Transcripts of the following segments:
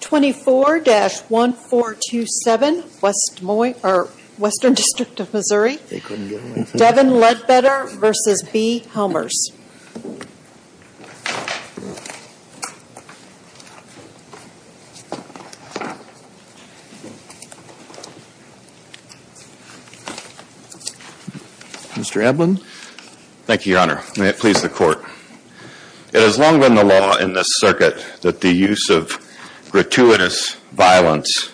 24-1427, Western District of Missouri, Devin Ledbetter v. B. Helmers It has long been the law in this circuit that the use of gratuitous violence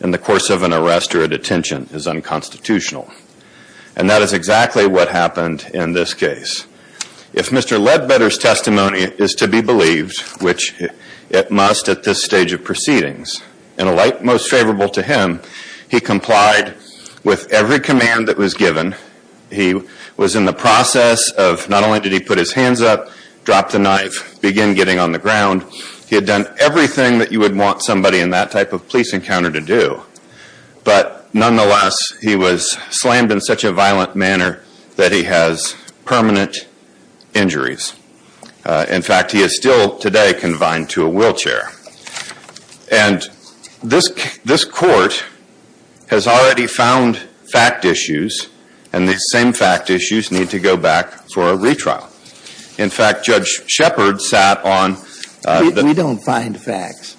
in the course of an arrest or a detention is unconstitutional, and that is exactly what happened in this case. If Mr. Ledbetter's testimony is to be believed, which it must at this stage of proceedings, in a light most favorable to him, he complied with every command that was given. He was in the process of not only did he put his hands up, drop the knife, begin getting on the ground, he had done everything that you would want somebody in that type of police encounter to do. But nonetheless, he was slammed in such a violent manner that he has permanent injuries. In fact, he is still today confined to a wheelchair. And this court has already found fact issues, and these same fact issues need to go back for a retrial. In fact, Judge Shepard sat on... We don't find facts.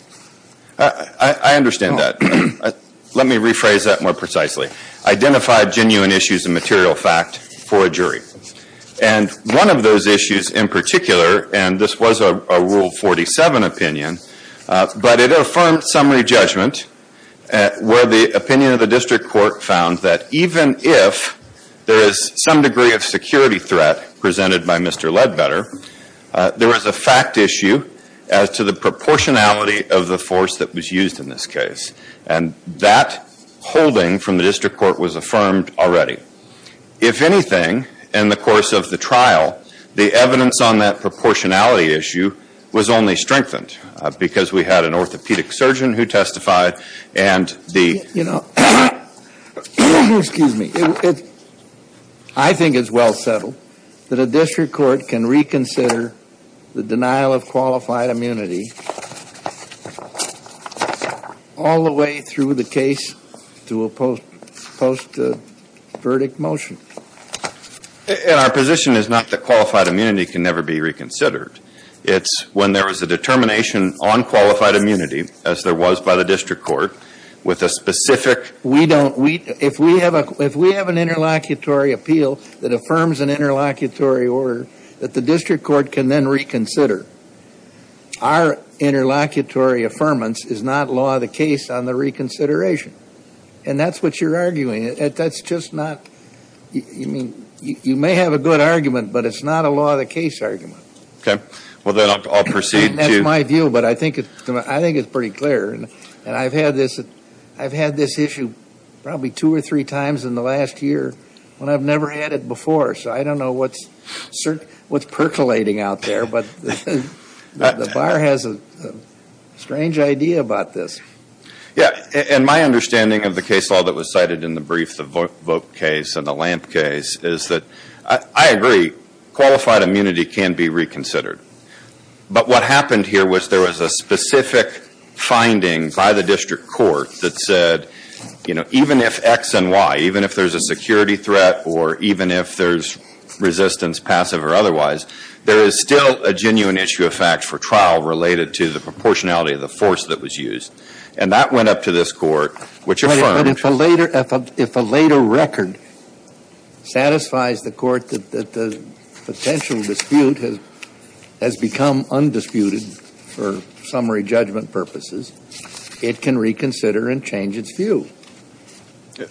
I understand that. Let me rephrase that more precisely. Identify genuine issues and material fact for a jury. And one of those issues in particular, and this was a Rule 47 opinion, but it affirmed summary judgment where the opinion of the district court found that even if there is some degree of security threat presented by Mr. Ledbetter, there is a fact issue as to the proportionality of the force that was used in this case. And that holding from the district court was affirmed already. If anything, in the course of the trial, the evidence on that proportionality issue was only strengthened because we had an orthopedic surgeon who testified and the... You know, excuse me. I think it's well settled that a district court can reconsider the denial of qualified immunity all the way through the case to a post-verdict motion. And our position is not that qualified immunity can never be reconsidered. It's when there is a determination on qualified immunity, as there was by the district court, with a specific... We don't... If we have an interlocutory appeal that affirms an interlocutory order that the district court can then reconsider, our interlocutory affirmance is not law of the case on the reconsideration. And that's what you're arguing. That's just not... You may have a good argument, but it's not a law of the case argument. Okay. Well, then I'll proceed to... That's my view, but I think it's pretty clear. And I've had this issue probably two or three times in the last year when I've never had it before. So I don't know what's percolating out there, but the bar has a strange idea about this. Yeah. And my understanding of the case law that was cited in the brief, the vote case and the lamp case, is that I agree, qualified immunity can be reconsidered. But what happened here was there was a specific finding by the district court that said, you know, even if X and Y, even if there's a security threat or even if there's resistance, passive or otherwise, there is still a genuine issue of fact for trial related to the proportionality of the force that was used. And that went up to this court, which affirmed... But if a later record satisfies the court that the potential dispute has become undisputed for summary judgment purposes, it can reconsider and change its view.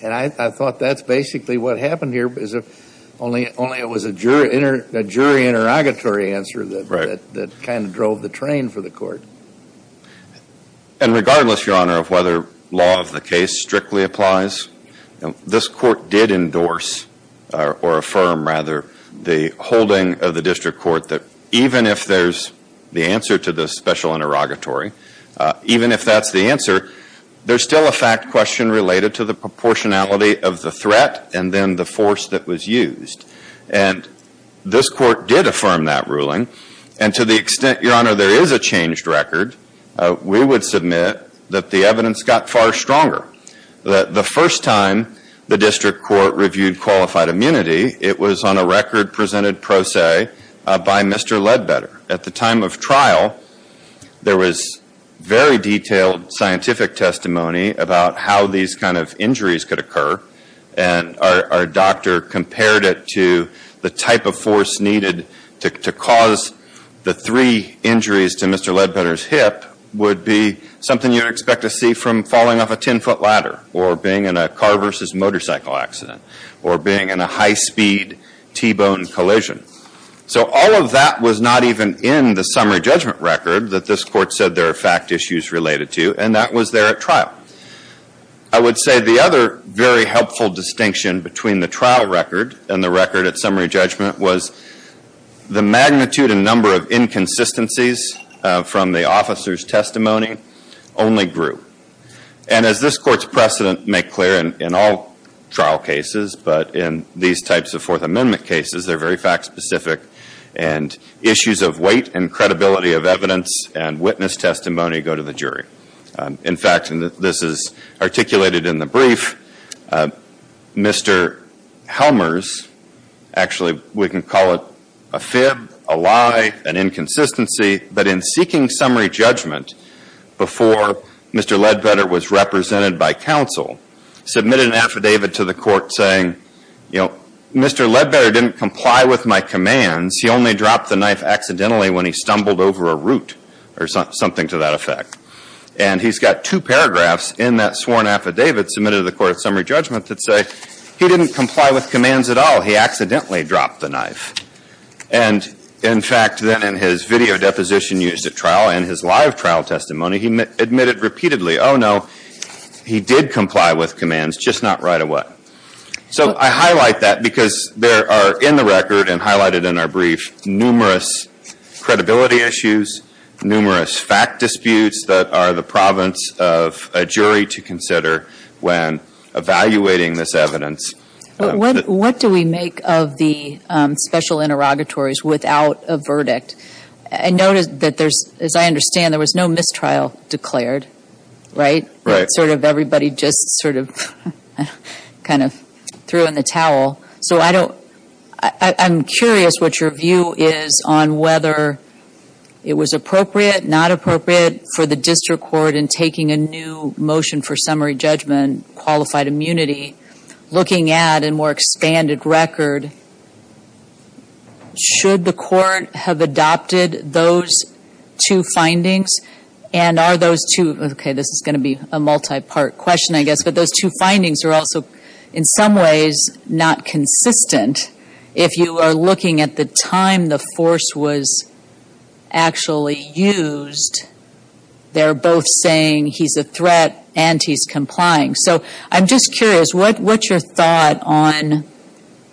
And I thought that's basically what happened here, only it was a jury interrogatory answer that kind of drove the train for the court. And regardless, Your Honor, of whether law of the case strictly applies, this court did endorse or affirm rather the holding of the district court that even if there's the answer to this special interrogatory, even if that's the answer, there's still a fact question related to the proportionality of the threat and then the force that was used. And this court did affirm that ruling. And to the extent, Your Honor, there is a changed record, we would submit that the evidence got far stronger. The first time the district court reviewed qualified immunity, it was on a record presented pro se by Mr. Ledbetter. At the time of trial, there was very detailed scientific testimony about how these kind of injuries could occur. And our doctor compared it to the type of force needed to cause the three injuries to Mr. Ledbetter's hip would be something you'd expect to see from falling off a 10-foot ladder or being in a car versus motorcycle accident or being in a high-speed T-bone collision. So all of that was not even in the summary judgment record that this court said there are fact issues related to, and that was there at trial. I would say the other very helpful distinction between the trial record and the record at summary judgment was the magnitude and number of inconsistencies from the officer's testimony only grew. And as this court's precedent make clear in all trial cases, but in these types of Fourth Amendment cases, they're very fact specific and issues of weight and credibility of evidence and witness testimony go to the jury. In fact, and this is articulated in the brief, Mr. Helmer's, actually we can call it a fib, a lie, an inconsistency, but in seeking summary judgment before Mr. Ledbetter was represented by counsel, submitted an affidavit to the court saying, you know, Mr. Ledbetter didn't comply with my commands. He only dropped the knife accidentally when he stumbled over a root or something to that effect. And he's got two paragraphs in that sworn affidavit submitted to the court at summary judgment that say, he didn't comply with commands at all. He accidentally dropped the knife. And in fact, then in his video deposition used at trial and his live trial testimony, he admitted repeatedly, oh, no, he did comply with commands, just not right away. So I highlight that because there are in the record and highlighted in our brief numerous credibility issues, numerous fact disputes that are the province of a jury to consider when evaluating this evidence. What do we make of the special interrogatories without a verdict? And notice that there's, as I understand, there was no mistrial declared, right? Sort of everybody just sort of kind of threw in the towel. So I don't, I'm curious what your view is on whether it was appropriate, not appropriate, for the district court in taking a new motion for summary judgment, qualified immunity, looking at a more expanded record, should the court have adopted those two findings? And are those two, okay, this is going to be a multi-part question, I guess, but those two findings are also in some ways not consistent. If you are looking at the time the force was actually used, they're both saying he's a threat and he's complying. So I'm just curious, what's your thought on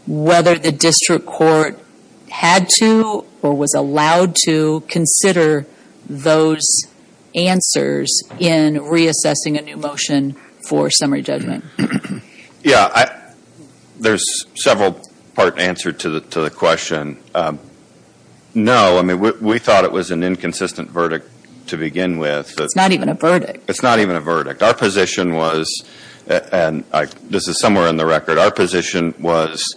whether the district court had to or was allowed to consider those answers in reassessing a new motion for summary judgment? Yeah, there's several part answer to the question. No, I mean, we thought it was an inconsistent verdict to begin with. It's not even a verdict. It's not even a verdict. Our position was, and this is somewhere in the record, our position was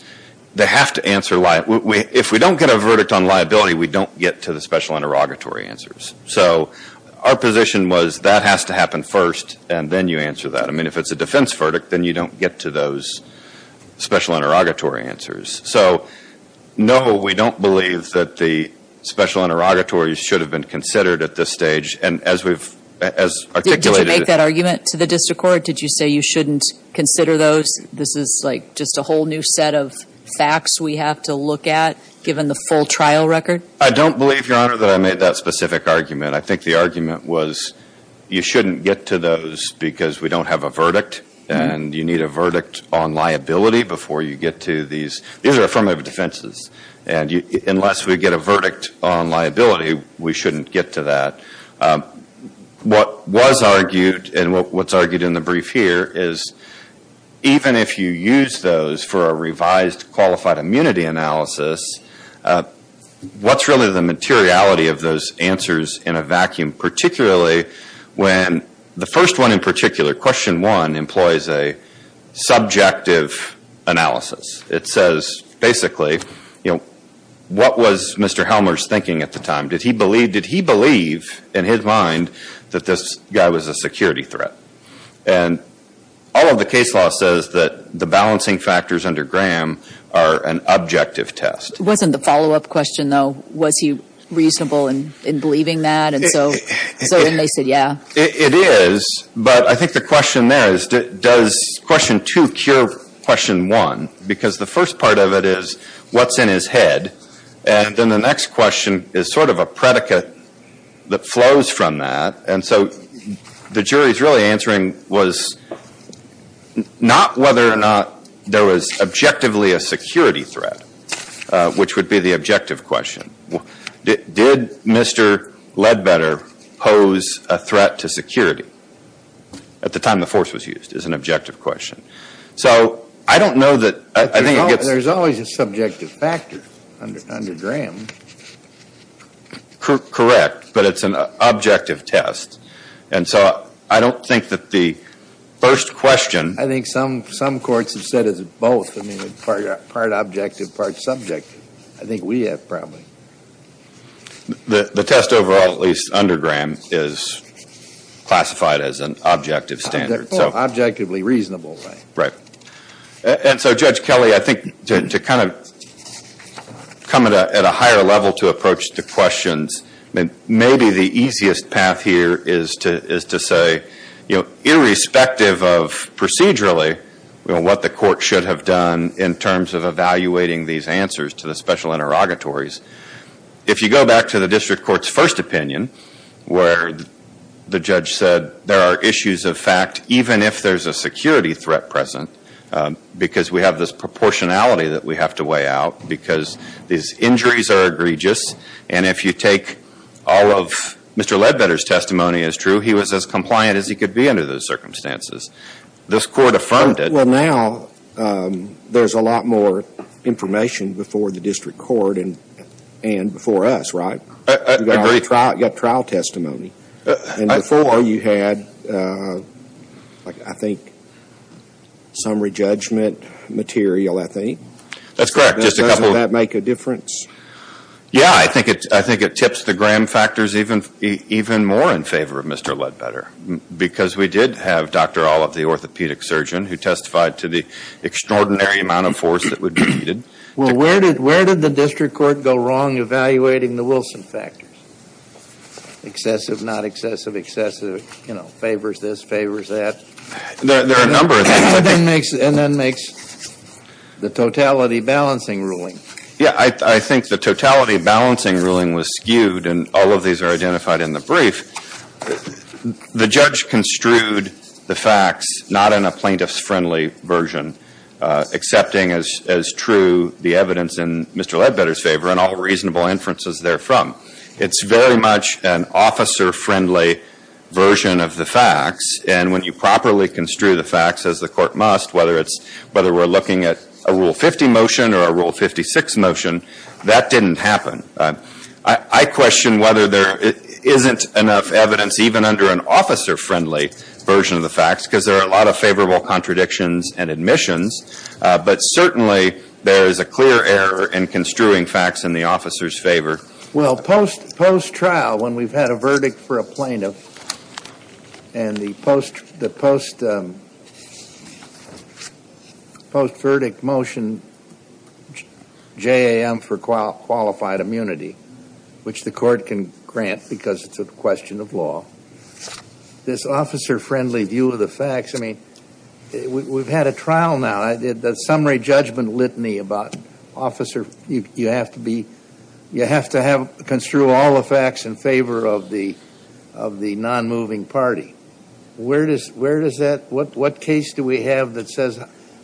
they have to answer, if we don't get a verdict on liability, we don't get to the special interrogatory answers. So our position was that has to happen first and then you answer that. I mean, if it's a defense verdict, then you don't get to those special interrogatory answers. So, no, we don't believe that the special interrogatories should have been considered at this stage. And as we've, as articulated. Did you make that argument to the district court? Did you say you shouldn't consider those? This is like just a whole new set of facts we have to look at given the full trial record? I don't believe, Your Honor, that I made that specific argument. I think the argument was you shouldn't get to those because we don't have a verdict and you need a verdict on liability before you get to these. These are affirmative defenses. And unless we get a verdict on liability, we shouldn't get to that. What was argued and what's argued in the brief here is, even if you use those for a revised qualified immunity analysis, what's really the materiality of those answers in a vacuum? Particularly when the first one in particular, question one, employs a subjective analysis. It says, basically, what was Mr. Helmer's thinking at the time? Did he believe, in his mind, that this guy was a security threat? And all of the case law says that the balancing factors under Graham are an objective test. Wasn't the follow-up question, though, was he reasonable in believing that? And so then they said, yeah. It is. But I think the question there is, does question two cure question one? Because the first part of it is, what's in his head? And then the next question is sort of a predicate that flows from that. And so the jury's really answering was not whether or not there was objectively a security threat, which would be the objective question. Did Mr. Ledbetter pose a threat to security at the time the force was used, is an objective question. So I don't know that I think it gets- Under Graham. Correct. But it's an objective test. And so I don't think that the first question- I think some courts have said it's both. I mean, part objective, part subjective. I think we have, probably. The test overall, at least under Graham, is classified as an objective standard. Objectively reasonable. Right. And so, Judge Kelly, I think to kind of come at a higher level to approach the questions, maybe the easiest path here is to say, irrespective of procedurally, what the court should have done in terms of evaluating these answers to the special interrogatories. If you go back to the district court's first opinion, where the judge said there are issues of fact, even if there's a security threat present, because we have this proportionality that we have to weigh out because these injuries are egregious, and if you take all of Mr. Ledbetter's testimony as true, he was as compliant as he could be under those circumstances. This court affirmed it. Well, now there's a lot more information before the district court and before us, right? I agree. You've got trial testimony. And before you had, I think, summary judgment material, I think. That's correct. Doesn't that make a difference? Yeah, I think it tips the Graham factors even more in favor of Mr. Ledbetter, because we did have Dr. Olive, the orthopedic surgeon, who testified to the extraordinary amount of force that would be needed. Well, where did the district court go wrong evaluating the Wilson factors? Excessive, not excessive. Excessive favors this, favors that. There are a number of things. And that makes the totality balancing ruling. Yeah, I think the totality balancing ruling was skewed, and all of these are identified in the brief. The judge construed the facts not in a plaintiff's friendly version, accepting as true the evidence in Mr. Ledbetter's favor and all reasonable inferences therefrom. It's very much an officer-friendly version of the facts. And when you properly construe the facts, as the court must, whether we're looking at a Rule 50 motion or a Rule 56 motion, that didn't happen. I question whether there isn't enough evidence even under an officer-friendly version of the facts, because there are a lot of favorable contradictions and admissions. But certainly there is a clear error in construing facts in the officer's favor. Well, post-trial, when we've had a verdict for a plaintiff, and the post-verdict motion, JAM for qualified immunity, which the court can grant because it's a question of law, this officer-friendly view of the facts, I mean, we've had a trial now. The summary judgment litany about, officer, you have to be, you have to have, construe all the facts in favor of the non-moving party. Where does that, what case do we have that says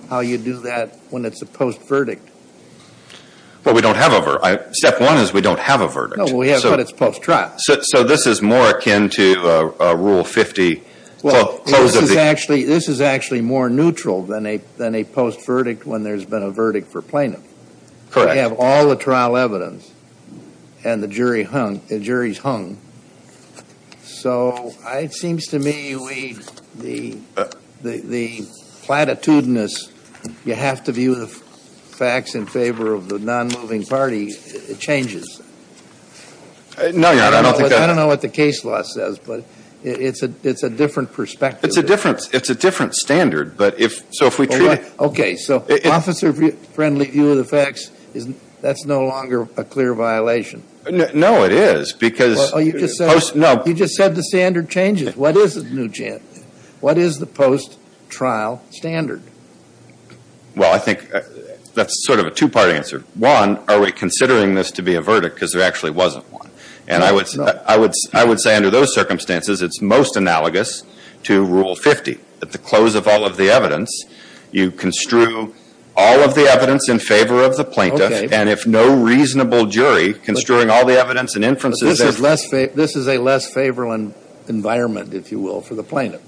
how you do that when it's a post-verdict? Well, we don't have a, step one is we don't have a verdict. No, we have, but it's post-trial. So this is more akin to a Rule 50. This is actually more neutral than a post-verdict when there's been a verdict for plaintiff. Correct. We have all the trial evidence, and the jury's hung. So it seems to me we, the platitudinous, you have to view the facts in favor of the non-moving party changes. No, I don't think that. I don't know what the case law says, but it's a different perspective. It's a different standard, but if, so if we treat it. Okay, so officer-friendly view of the facts, that's no longer a clear violation. No, it is, because. Oh, you just said. No. You just said the standard changes. What is the new, what is the post-trial standard? Well, I think that's sort of a two-part answer. One, are we considering this to be a verdict because there actually wasn't one. And I would say under those circumstances, it's most analogous to Rule 50. At the close of all of the evidence, you construe all of the evidence in favor of the plaintiff. And if no reasonable jury, construing all the evidence and inferences. This is a less favorable environment, if you will, for the plaintiff.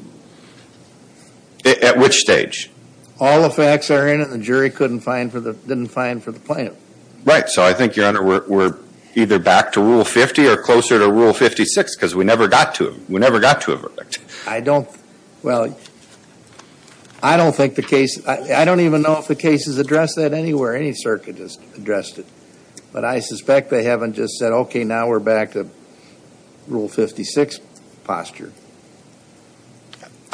At which stage? All the facts are in it, and the jury couldn't find, didn't find for the plaintiff. Right, so I think, Your Honor, we're either back to Rule 50 or closer to Rule 56, because we never got to it. We never got to a verdict. I don't, well, I don't think the case, I don't even know if the cases address that anywhere. Any circuit has addressed it. But I suspect they haven't just said, okay, now we're back to Rule 56 posture.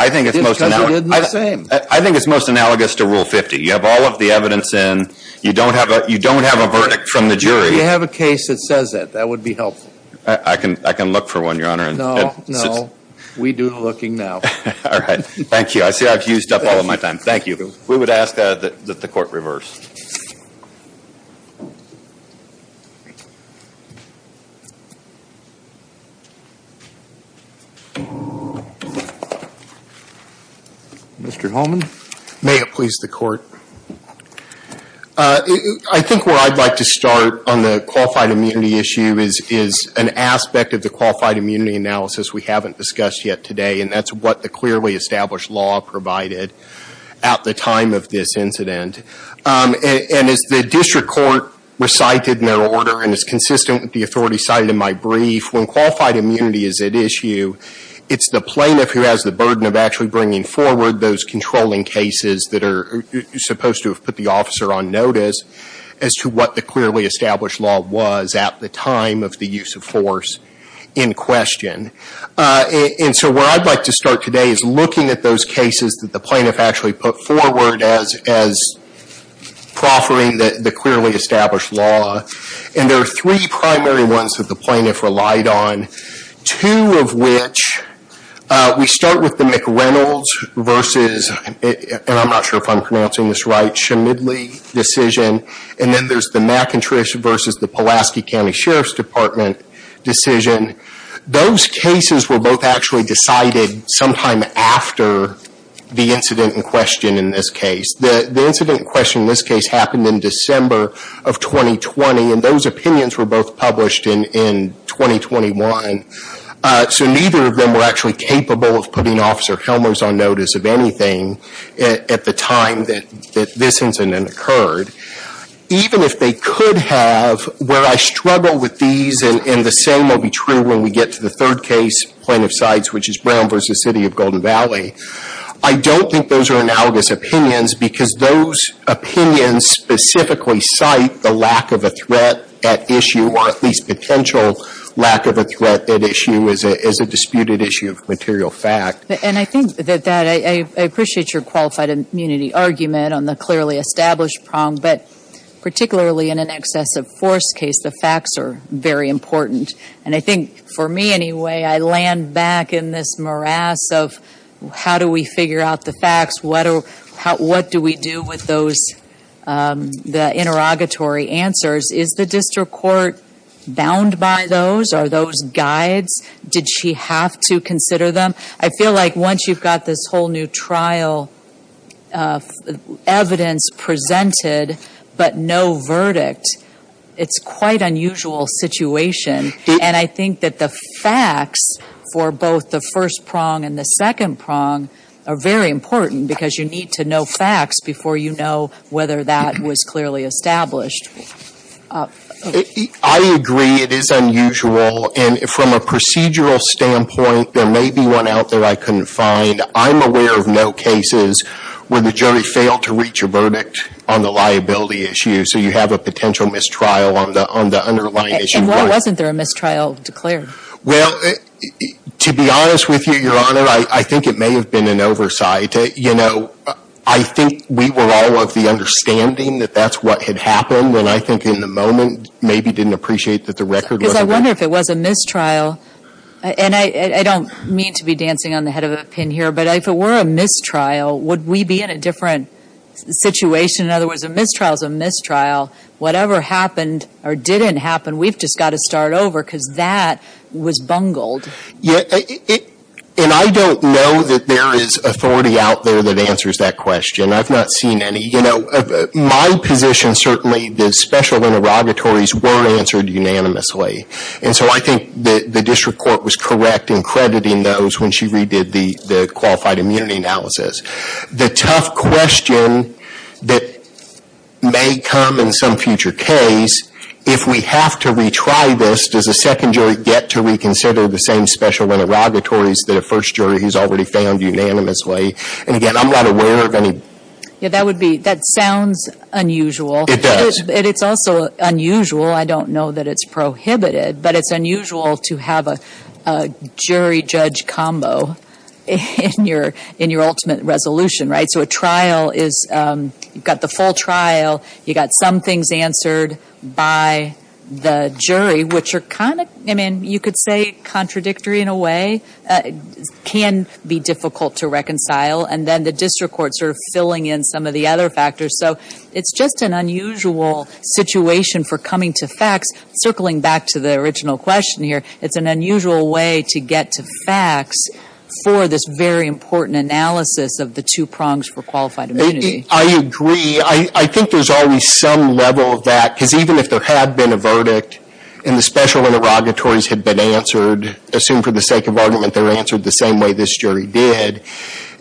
I think it's most analogous. Because we did the same. I think it's most analogous to Rule 50. You have all of the evidence in. You don't have a verdict from the jury. If you have a case that says that, that would be helpful. I can look for one, Your Honor. No, no. We do the looking now. All right. Thank you. I see I've used up all of my time. Thank you. We would ask that the Court reverse. Mr. Holman. May it please the Court. I think where I'd like to start on the qualified immunity issue is an aspect of the qualified immunity analysis we haven't discussed yet today. And that's what the clearly established law provided at the time of this incident. And as the district court recited in their order, and it's consistent with the authority cited in my brief, when qualified immunity is at issue, it's the plaintiff who has the burden of actually bringing forward those controlling cases that are supposed to have put the officer on notice as to what the clearly established law was at the time of the use of force in question. And so where I'd like to start today is looking at those cases that the plaintiff actually put forward as proffering the clearly established law. And there are three primary ones that the plaintiff relied on. Two of which, we start with the McReynolds versus, and I'm not sure if I'm pronouncing this right, Schmidly decision, and then there's the McIntrysh versus the Pulaski County Sheriff's Department decision. Those cases were both actually decided sometime after the incident in question in this case. The incident in question in this case happened in December of 2020, and those opinions were both published in 2021. So neither of them were actually capable of putting Officer Helmers on notice of anything at the time that this incident occurred. Even if they could have, where I struggle with these, and the same will be true when we get to the third case, plaintiff sides, which is Brown versus City of Golden Valley. I don't think those are analogous opinions because those opinions specifically cite the lack of a threat at issue, or at least potential lack of a threat at issue is a disputed issue of material fact. And I think that I appreciate your qualified immunity argument on the clearly established prong, but particularly in an excessive force case, the facts are very important. And I think, for me anyway, I land back in this morass of how do we figure out the facts? What do we do with those, the interrogatory answers? Is the district court bound by those? Are those guides? Did she have to consider them? I feel like once you've got this whole new trial of evidence presented, but no verdict, it's quite unusual situation. And I think that the facts for both the first prong and the second prong are very important because you need to know facts before you know whether that was clearly established. I agree it is unusual. And from a procedural standpoint, there may be one out there I couldn't find. I'm aware of no cases where the jury failed to reach a verdict on the liability issue, so you have a potential mistrial on the underlying issue. And why wasn't there a mistrial declared? Well, to be honest with you, Your Honor, I think it may have been an oversight. You know, I think we were all of the understanding that that's what had happened when I think in the moment maybe didn't appreciate that the record wasn't there. Because I wonder if it was a mistrial, and I don't mean to be dancing on the head of a pin here, but if it were a mistrial, would we be in a different situation? In other words, a mistrial is a mistrial. Whatever happened or didn't happen, we've just got to start over because that was bungled. And I don't know that there is authority out there that answers that question. I've not seen any. You know, my position certainly is special interrogatories were answered unanimously. And so I think the district court was correct in crediting those when she redid the qualified immunity analysis. The tough question that may come in some future case, if we have to retry this, does the second jury get to reconsider the same special interrogatories that a first jury has already found unanimously? And, again, I'm not aware of any. Yeah, that sounds unusual. It does. And it's also unusual. I don't know that it's prohibited. But it's unusual to have a jury-judge combo in your ultimate resolution, right? You've got the full trial. You've got some things answered by the jury, which are kind of, I mean, you could say contradictory in a way. It can be difficult to reconcile. And then the district courts are filling in some of the other factors. So it's just an unusual situation for coming to facts. Circling back to the original question here, it's an unusual way to get to facts for this very important analysis of the two prongs for qualified immunity. I agree. I think there's always some level of that. Because even if there had been a verdict and the special interrogatories had been answered, assumed for the sake of argument they were answered the same way this jury did,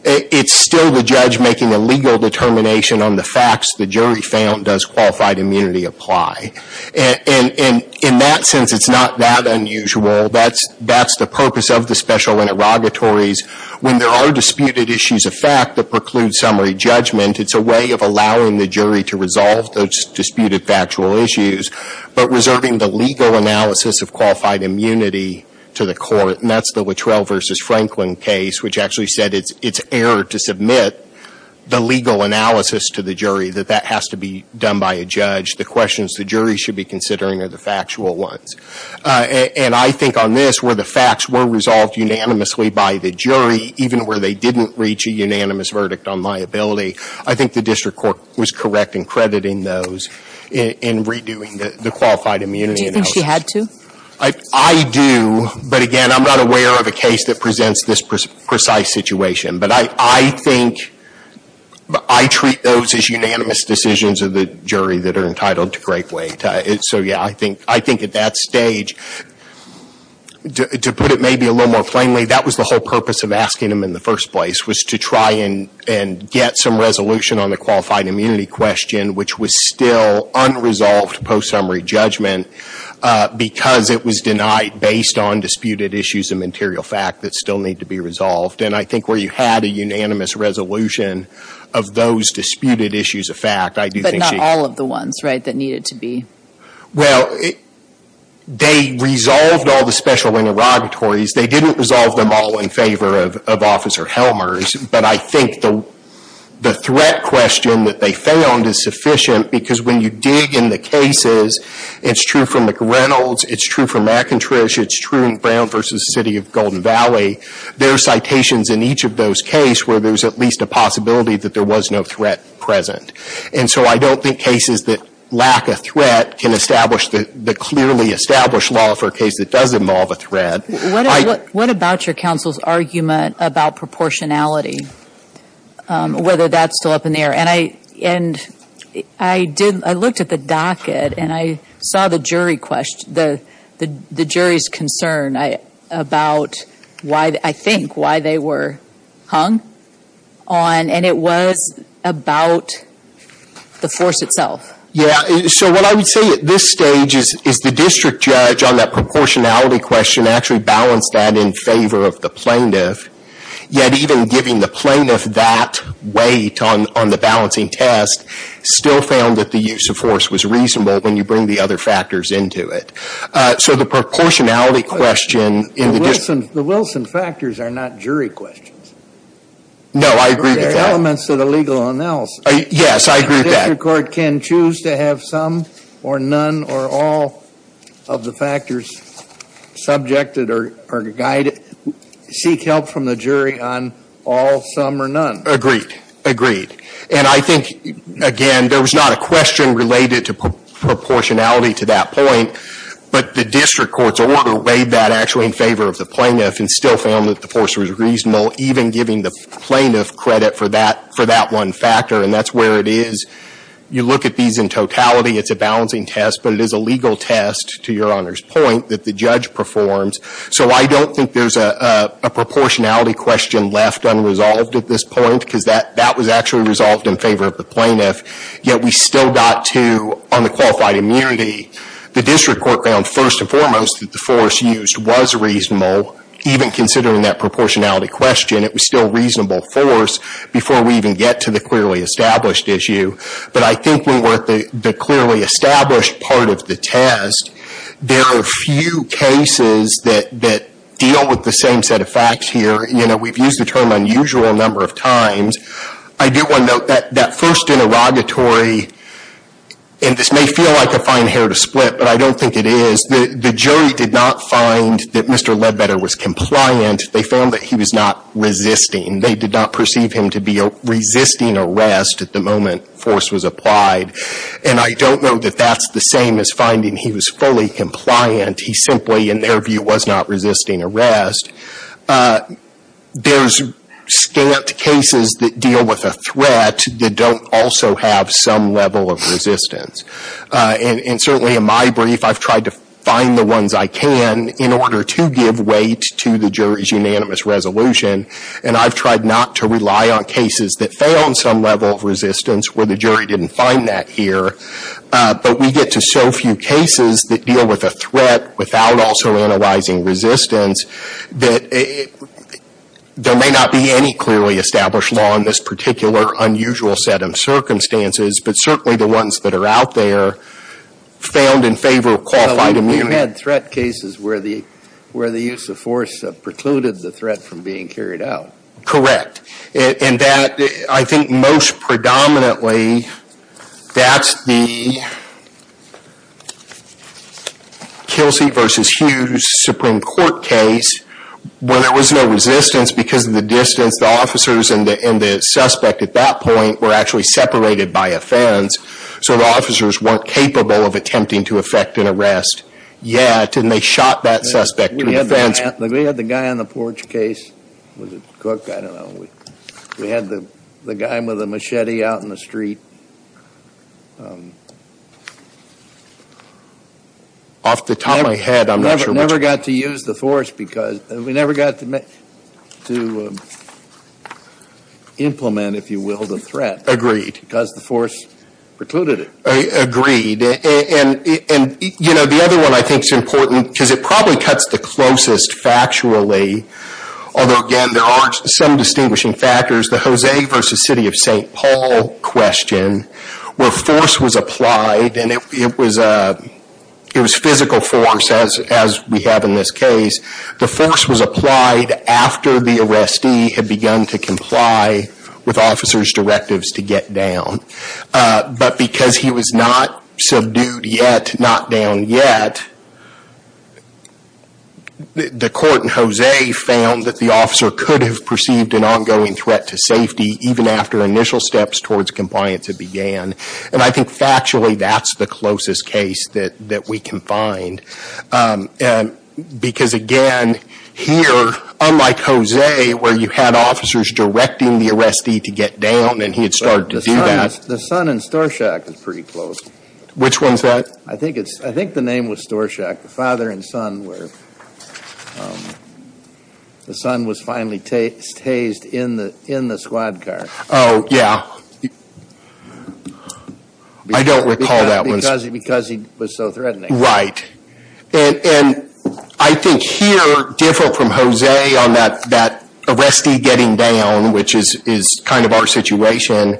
it's still the judge making a legal determination on the facts the jury found does qualified immunity apply. And in that sense, it's not that unusual. That's the purpose of the special interrogatories. When there are disputed issues of fact that preclude summary judgment, it's a way of allowing the jury to resolve those disputed factual issues, but reserving the legal analysis of qualified immunity to the court. And that's the Luttrell v. Franklin case, which actually said it's error to submit the legal analysis to the jury, that that has to be done by a judge. The questions the jury should be considering are the factual ones. And I think on this, where the facts were resolved unanimously by the jury, even where they didn't reach a unanimous verdict on liability, I think the district court was correct in crediting those in redoing the qualified immunity analysis. Do you think she had to? I do. But again, I'm not aware of a case that presents this precise situation. But I think I treat those as unanimous decisions of the jury that are entitled to great weight. So, yeah, I think at that stage, to put it maybe a little more plainly, that was the whole purpose of asking them in the first place, was to try and get some resolution on the qualified immunity question, which was still unresolved post-summary judgment, because it was denied based on disputed issues of material fact that still need to be resolved. And I think where you had a unanimous resolution of those disputed issues of fact, I do think she... But not all of the ones, right, that needed to be. Well, they resolved all the special interrogatories. They didn't resolve them all in favor of Officer Helmers. But I think the threat question that they found is sufficient, because when you dig in the cases, it's true for McReynolds, it's true for McIntrysh, it's true in Brown v. City of Golden Valley. There are citations in each of those cases where there's at least a possibility that there was no threat present. And so I don't think cases that lack a threat can establish the clearly established law for a case that does involve a threat. What about your counsel's argument about proportionality, whether that's still up in the air? And I looked at the docket, and I saw the jury's concern about, I think, why they were hung on, and it was about the force itself. Yeah. So what I would say at this stage is the district judge on that proportionality question actually balanced that in favor of the plaintiff, yet even giving the plaintiff that weight on the balancing test still found that the use of force was reasonable when you bring the other factors into it. So the proportionality question in the district... The Wilson factors are not jury questions. No, I agree with that. They're elements of the legal analysis. Yes, I agree with that. The district court can choose to have some or none or all of the factors subjected or guided, seek help from the jury on all, some, or none. Agreed, agreed. And I think, again, there was not a question related to proportionality to that point, but the district court's order weighed that actually in favor of the plaintiff and still found that the force was reasonable, even giving the plaintiff credit for that one factor, and that's where it is. You look at these in totality. It's a balancing test, but it is a legal test, to Your Honor's point, that the judge performs. So I don't think there's a proportionality question left unresolved at this point because that was actually resolved in favor of the plaintiff, yet we still got to, on the qualified immunity, the district court found first and foremost that the force used was reasonable, even considering that proportionality question. It was still reasonable force before we even get to the clearly established issue. But I think when we're at the clearly established part of the test, there are few cases that deal with the same set of facts here. You know, we've used the term unusual a number of times. I do want to note that that first interrogatory, and this may feel like a fine hair to split, but I don't think it is. The jury did not find that Mr. Ledbetter was compliant. They found that he was not resisting. They did not perceive him to be resisting arrest at the moment force was applied. And I don't know that that's the same as finding he was fully compliant. He simply, in their view, was not resisting arrest. There's scant cases that deal with a threat that don't also have some level of resistance. And certainly in my brief, I've tried to find the ones I can in order to give weight to the jury's unanimous resolution. And I've tried not to rely on cases that fail in some level of resistance where the jury didn't find that here. But we get to so few cases that deal with a threat without also analyzing resistance that there may not be any clearly established law in this particular unusual set of circumstances, but certainly the ones that are out there found in favor of qualified immunity. Well, you had threat cases where the use of force precluded the threat from being carried out. Correct. And that, I think most predominantly, that's the Kelsey v. Hughes Supreme Court case where there was no resistance because of the distance. The officers and the suspect at that point were actually separated by offense. So the officers weren't capable of attempting to effect an arrest yet. And they shot that suspect through the fence. We had the guy on the porch case. Was it Cook? I don't know. We had the guy with a machete out in the street. Off the top of my head, I'm not sure which one. We never got to implement, if you will, the threat. Because the force precluded it. Agreed. And, you know, the other one I think is important because it probably cuts the closest factually. Although, again, there are some distinguishing factors. The Jose v. City of St. Paul question where force was applied and it was physical force as we have in this case. The force was applied after the arrestee had begun to comply with officers' directives to get down. But because he was not subdued yet, not down yet, the court in Jose found that the officer could have perceived an ongoing threat to safety even after initial steps towards compliance had began. And I think factually that's the closest case that we can find. Because, again, here, unlike Jose, where you had officers directing the arrestee to get down and he had started to do that. The son in Storshak is pretty close. Which one's that? I think the name was Storshak, the father and son where the son was finally tased in the squad car. Oh, yeah. I don't recall that one. Because he was so threatening. Right. And I think here, different from Jose on that arrestee getting down, which is kind of our situation,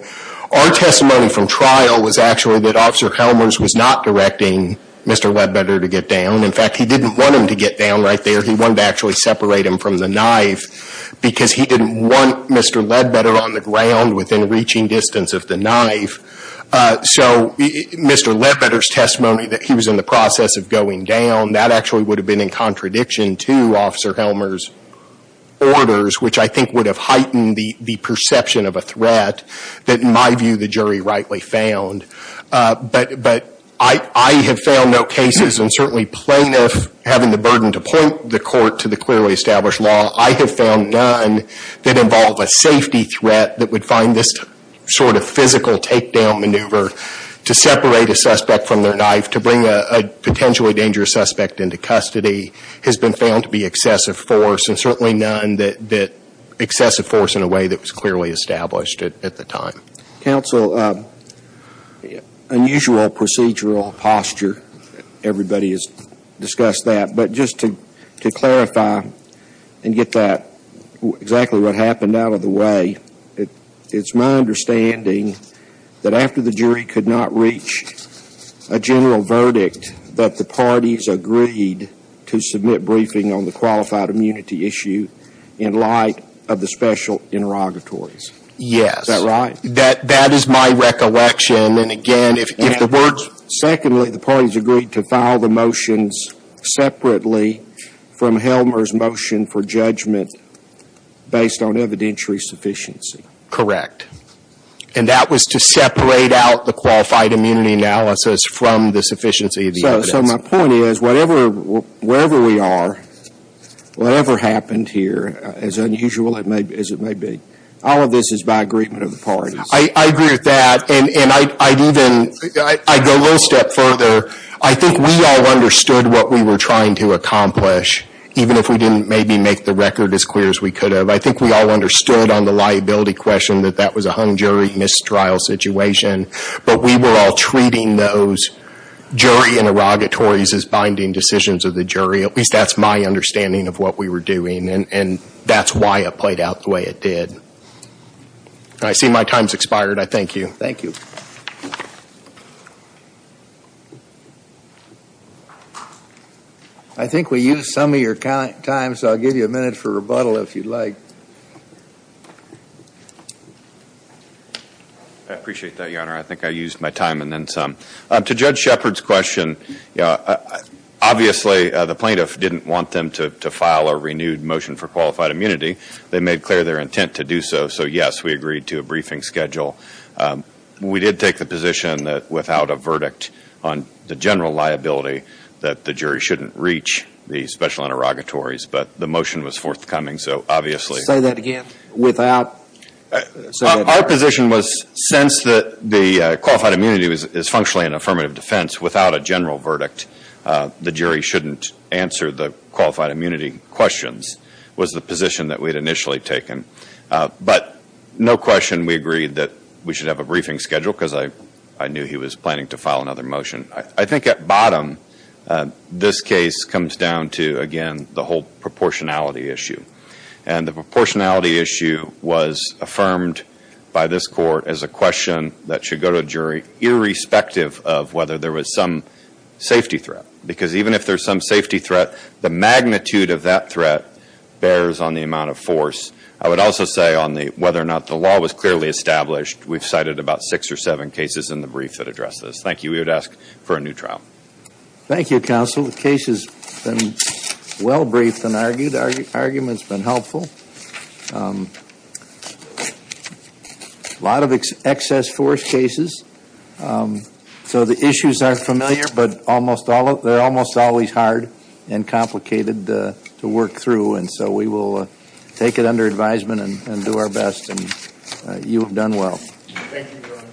our testimony from trial was actually that Officer Helmers was not directing Mr. Ledbetter to get down. In fact, he didn't want him to get down right there. He wanted to actually separate him from the knife because he didn't want Mr. Ledbetter on the ground within reaching distance of the knife. So Mr. Ledbetter's testimony that he was in the process of going down, that actually would have been in contradiction to Officer Helmers' orders, which I think would have heightened the perception of a threat that, in my view, the jury rightly found. But I have found no cases, and certainly plaintiffs having the burden to point the court to the clearly established law, I have found none that involve a safety threat that would find this sort of physical takedown maneuver to separate a suspect from their knife, to bring a potentially dangerous suspect into custody, has been found to be excessive force, and certainly none that excessive force in a way that was clearly established at the time. Counsel, unusual procedural posture, everybody has discussed that. But just to clarify and get that exactly what happened out of the way, it's my understanding that after the jury could not reach a general verdict, that the parties agreed to submit briefing on the qualified immunity issue in light of the special interrogatories. Yes. Is that right? That is my recollection. Secondly, the parties agreed to file the motions separately from Helmers' motion for judgment based on evidentiary sufficiency. Correct. And that was to separate out the qualified immunity analysis from the sufficiency of the evidence. So my point is, wherever we are, whatever happened here, as unusual as it may be, all of this is by agreement of the parties. I agree with that. And I'd even, I'd go a little step further. I think we all understood what we were trying to accomplish, even if we didn't maybe make the record as clear as we could have. I think we all understood on the liability question that that was a hung jury mistrial situation. But we were all treating those jury interrogatories as binding decisions of the jury. At least that's my understanding of what we were doing. And that's why it played out the way it did. I see my time's expired. I thank you. Thank you. I think we used some of your time, so I'll give you a minute for rebuttal if you'd like. I appreciate that, Your Honor. I think I used my time and then some. To Judge Shepard's question, obviously the plaintiff didn't want them to file a renewed motion for qualified immunity. They made clear their intent to do so. So, yes, we agreed to a briefing schedule. We did take the position that without a verdict on the general liability that the jury shouldn't reach the special interrogatories. But the motion was forthcoming, so obviously. Say that again. Our position was since the qualified immunity is functionally an affirmative defense, without a general verdict, the jury shouldn't answer the qualified immunity questions was the position that we had initially taken. But no question we agreed that we should have a briefing schedule because I knew he was planning to file another motion. I think at bottom, this case comes down to, again, the whole proportionality issue. And the proportionality issue was affirmed by this court as a question that should go to a jury irrespective of whether there was some safety threat. Because even if there's some safety threat, the magnitude of that threat bears on the amount of force. I would also say on whether or not the law was clearly established, we've cited about six or seven cases in the brief that address this. Thank you. We would ask for a new trial. Thank you, Counsel. The case has been well briefed and argued. The argument's been helpful. A lot of excess force cases. So the issues are familiar, but they're almost always hard and complicated to work through. And so we will take it under advisement and do our best. And you have done well. Thank you, Your Honor.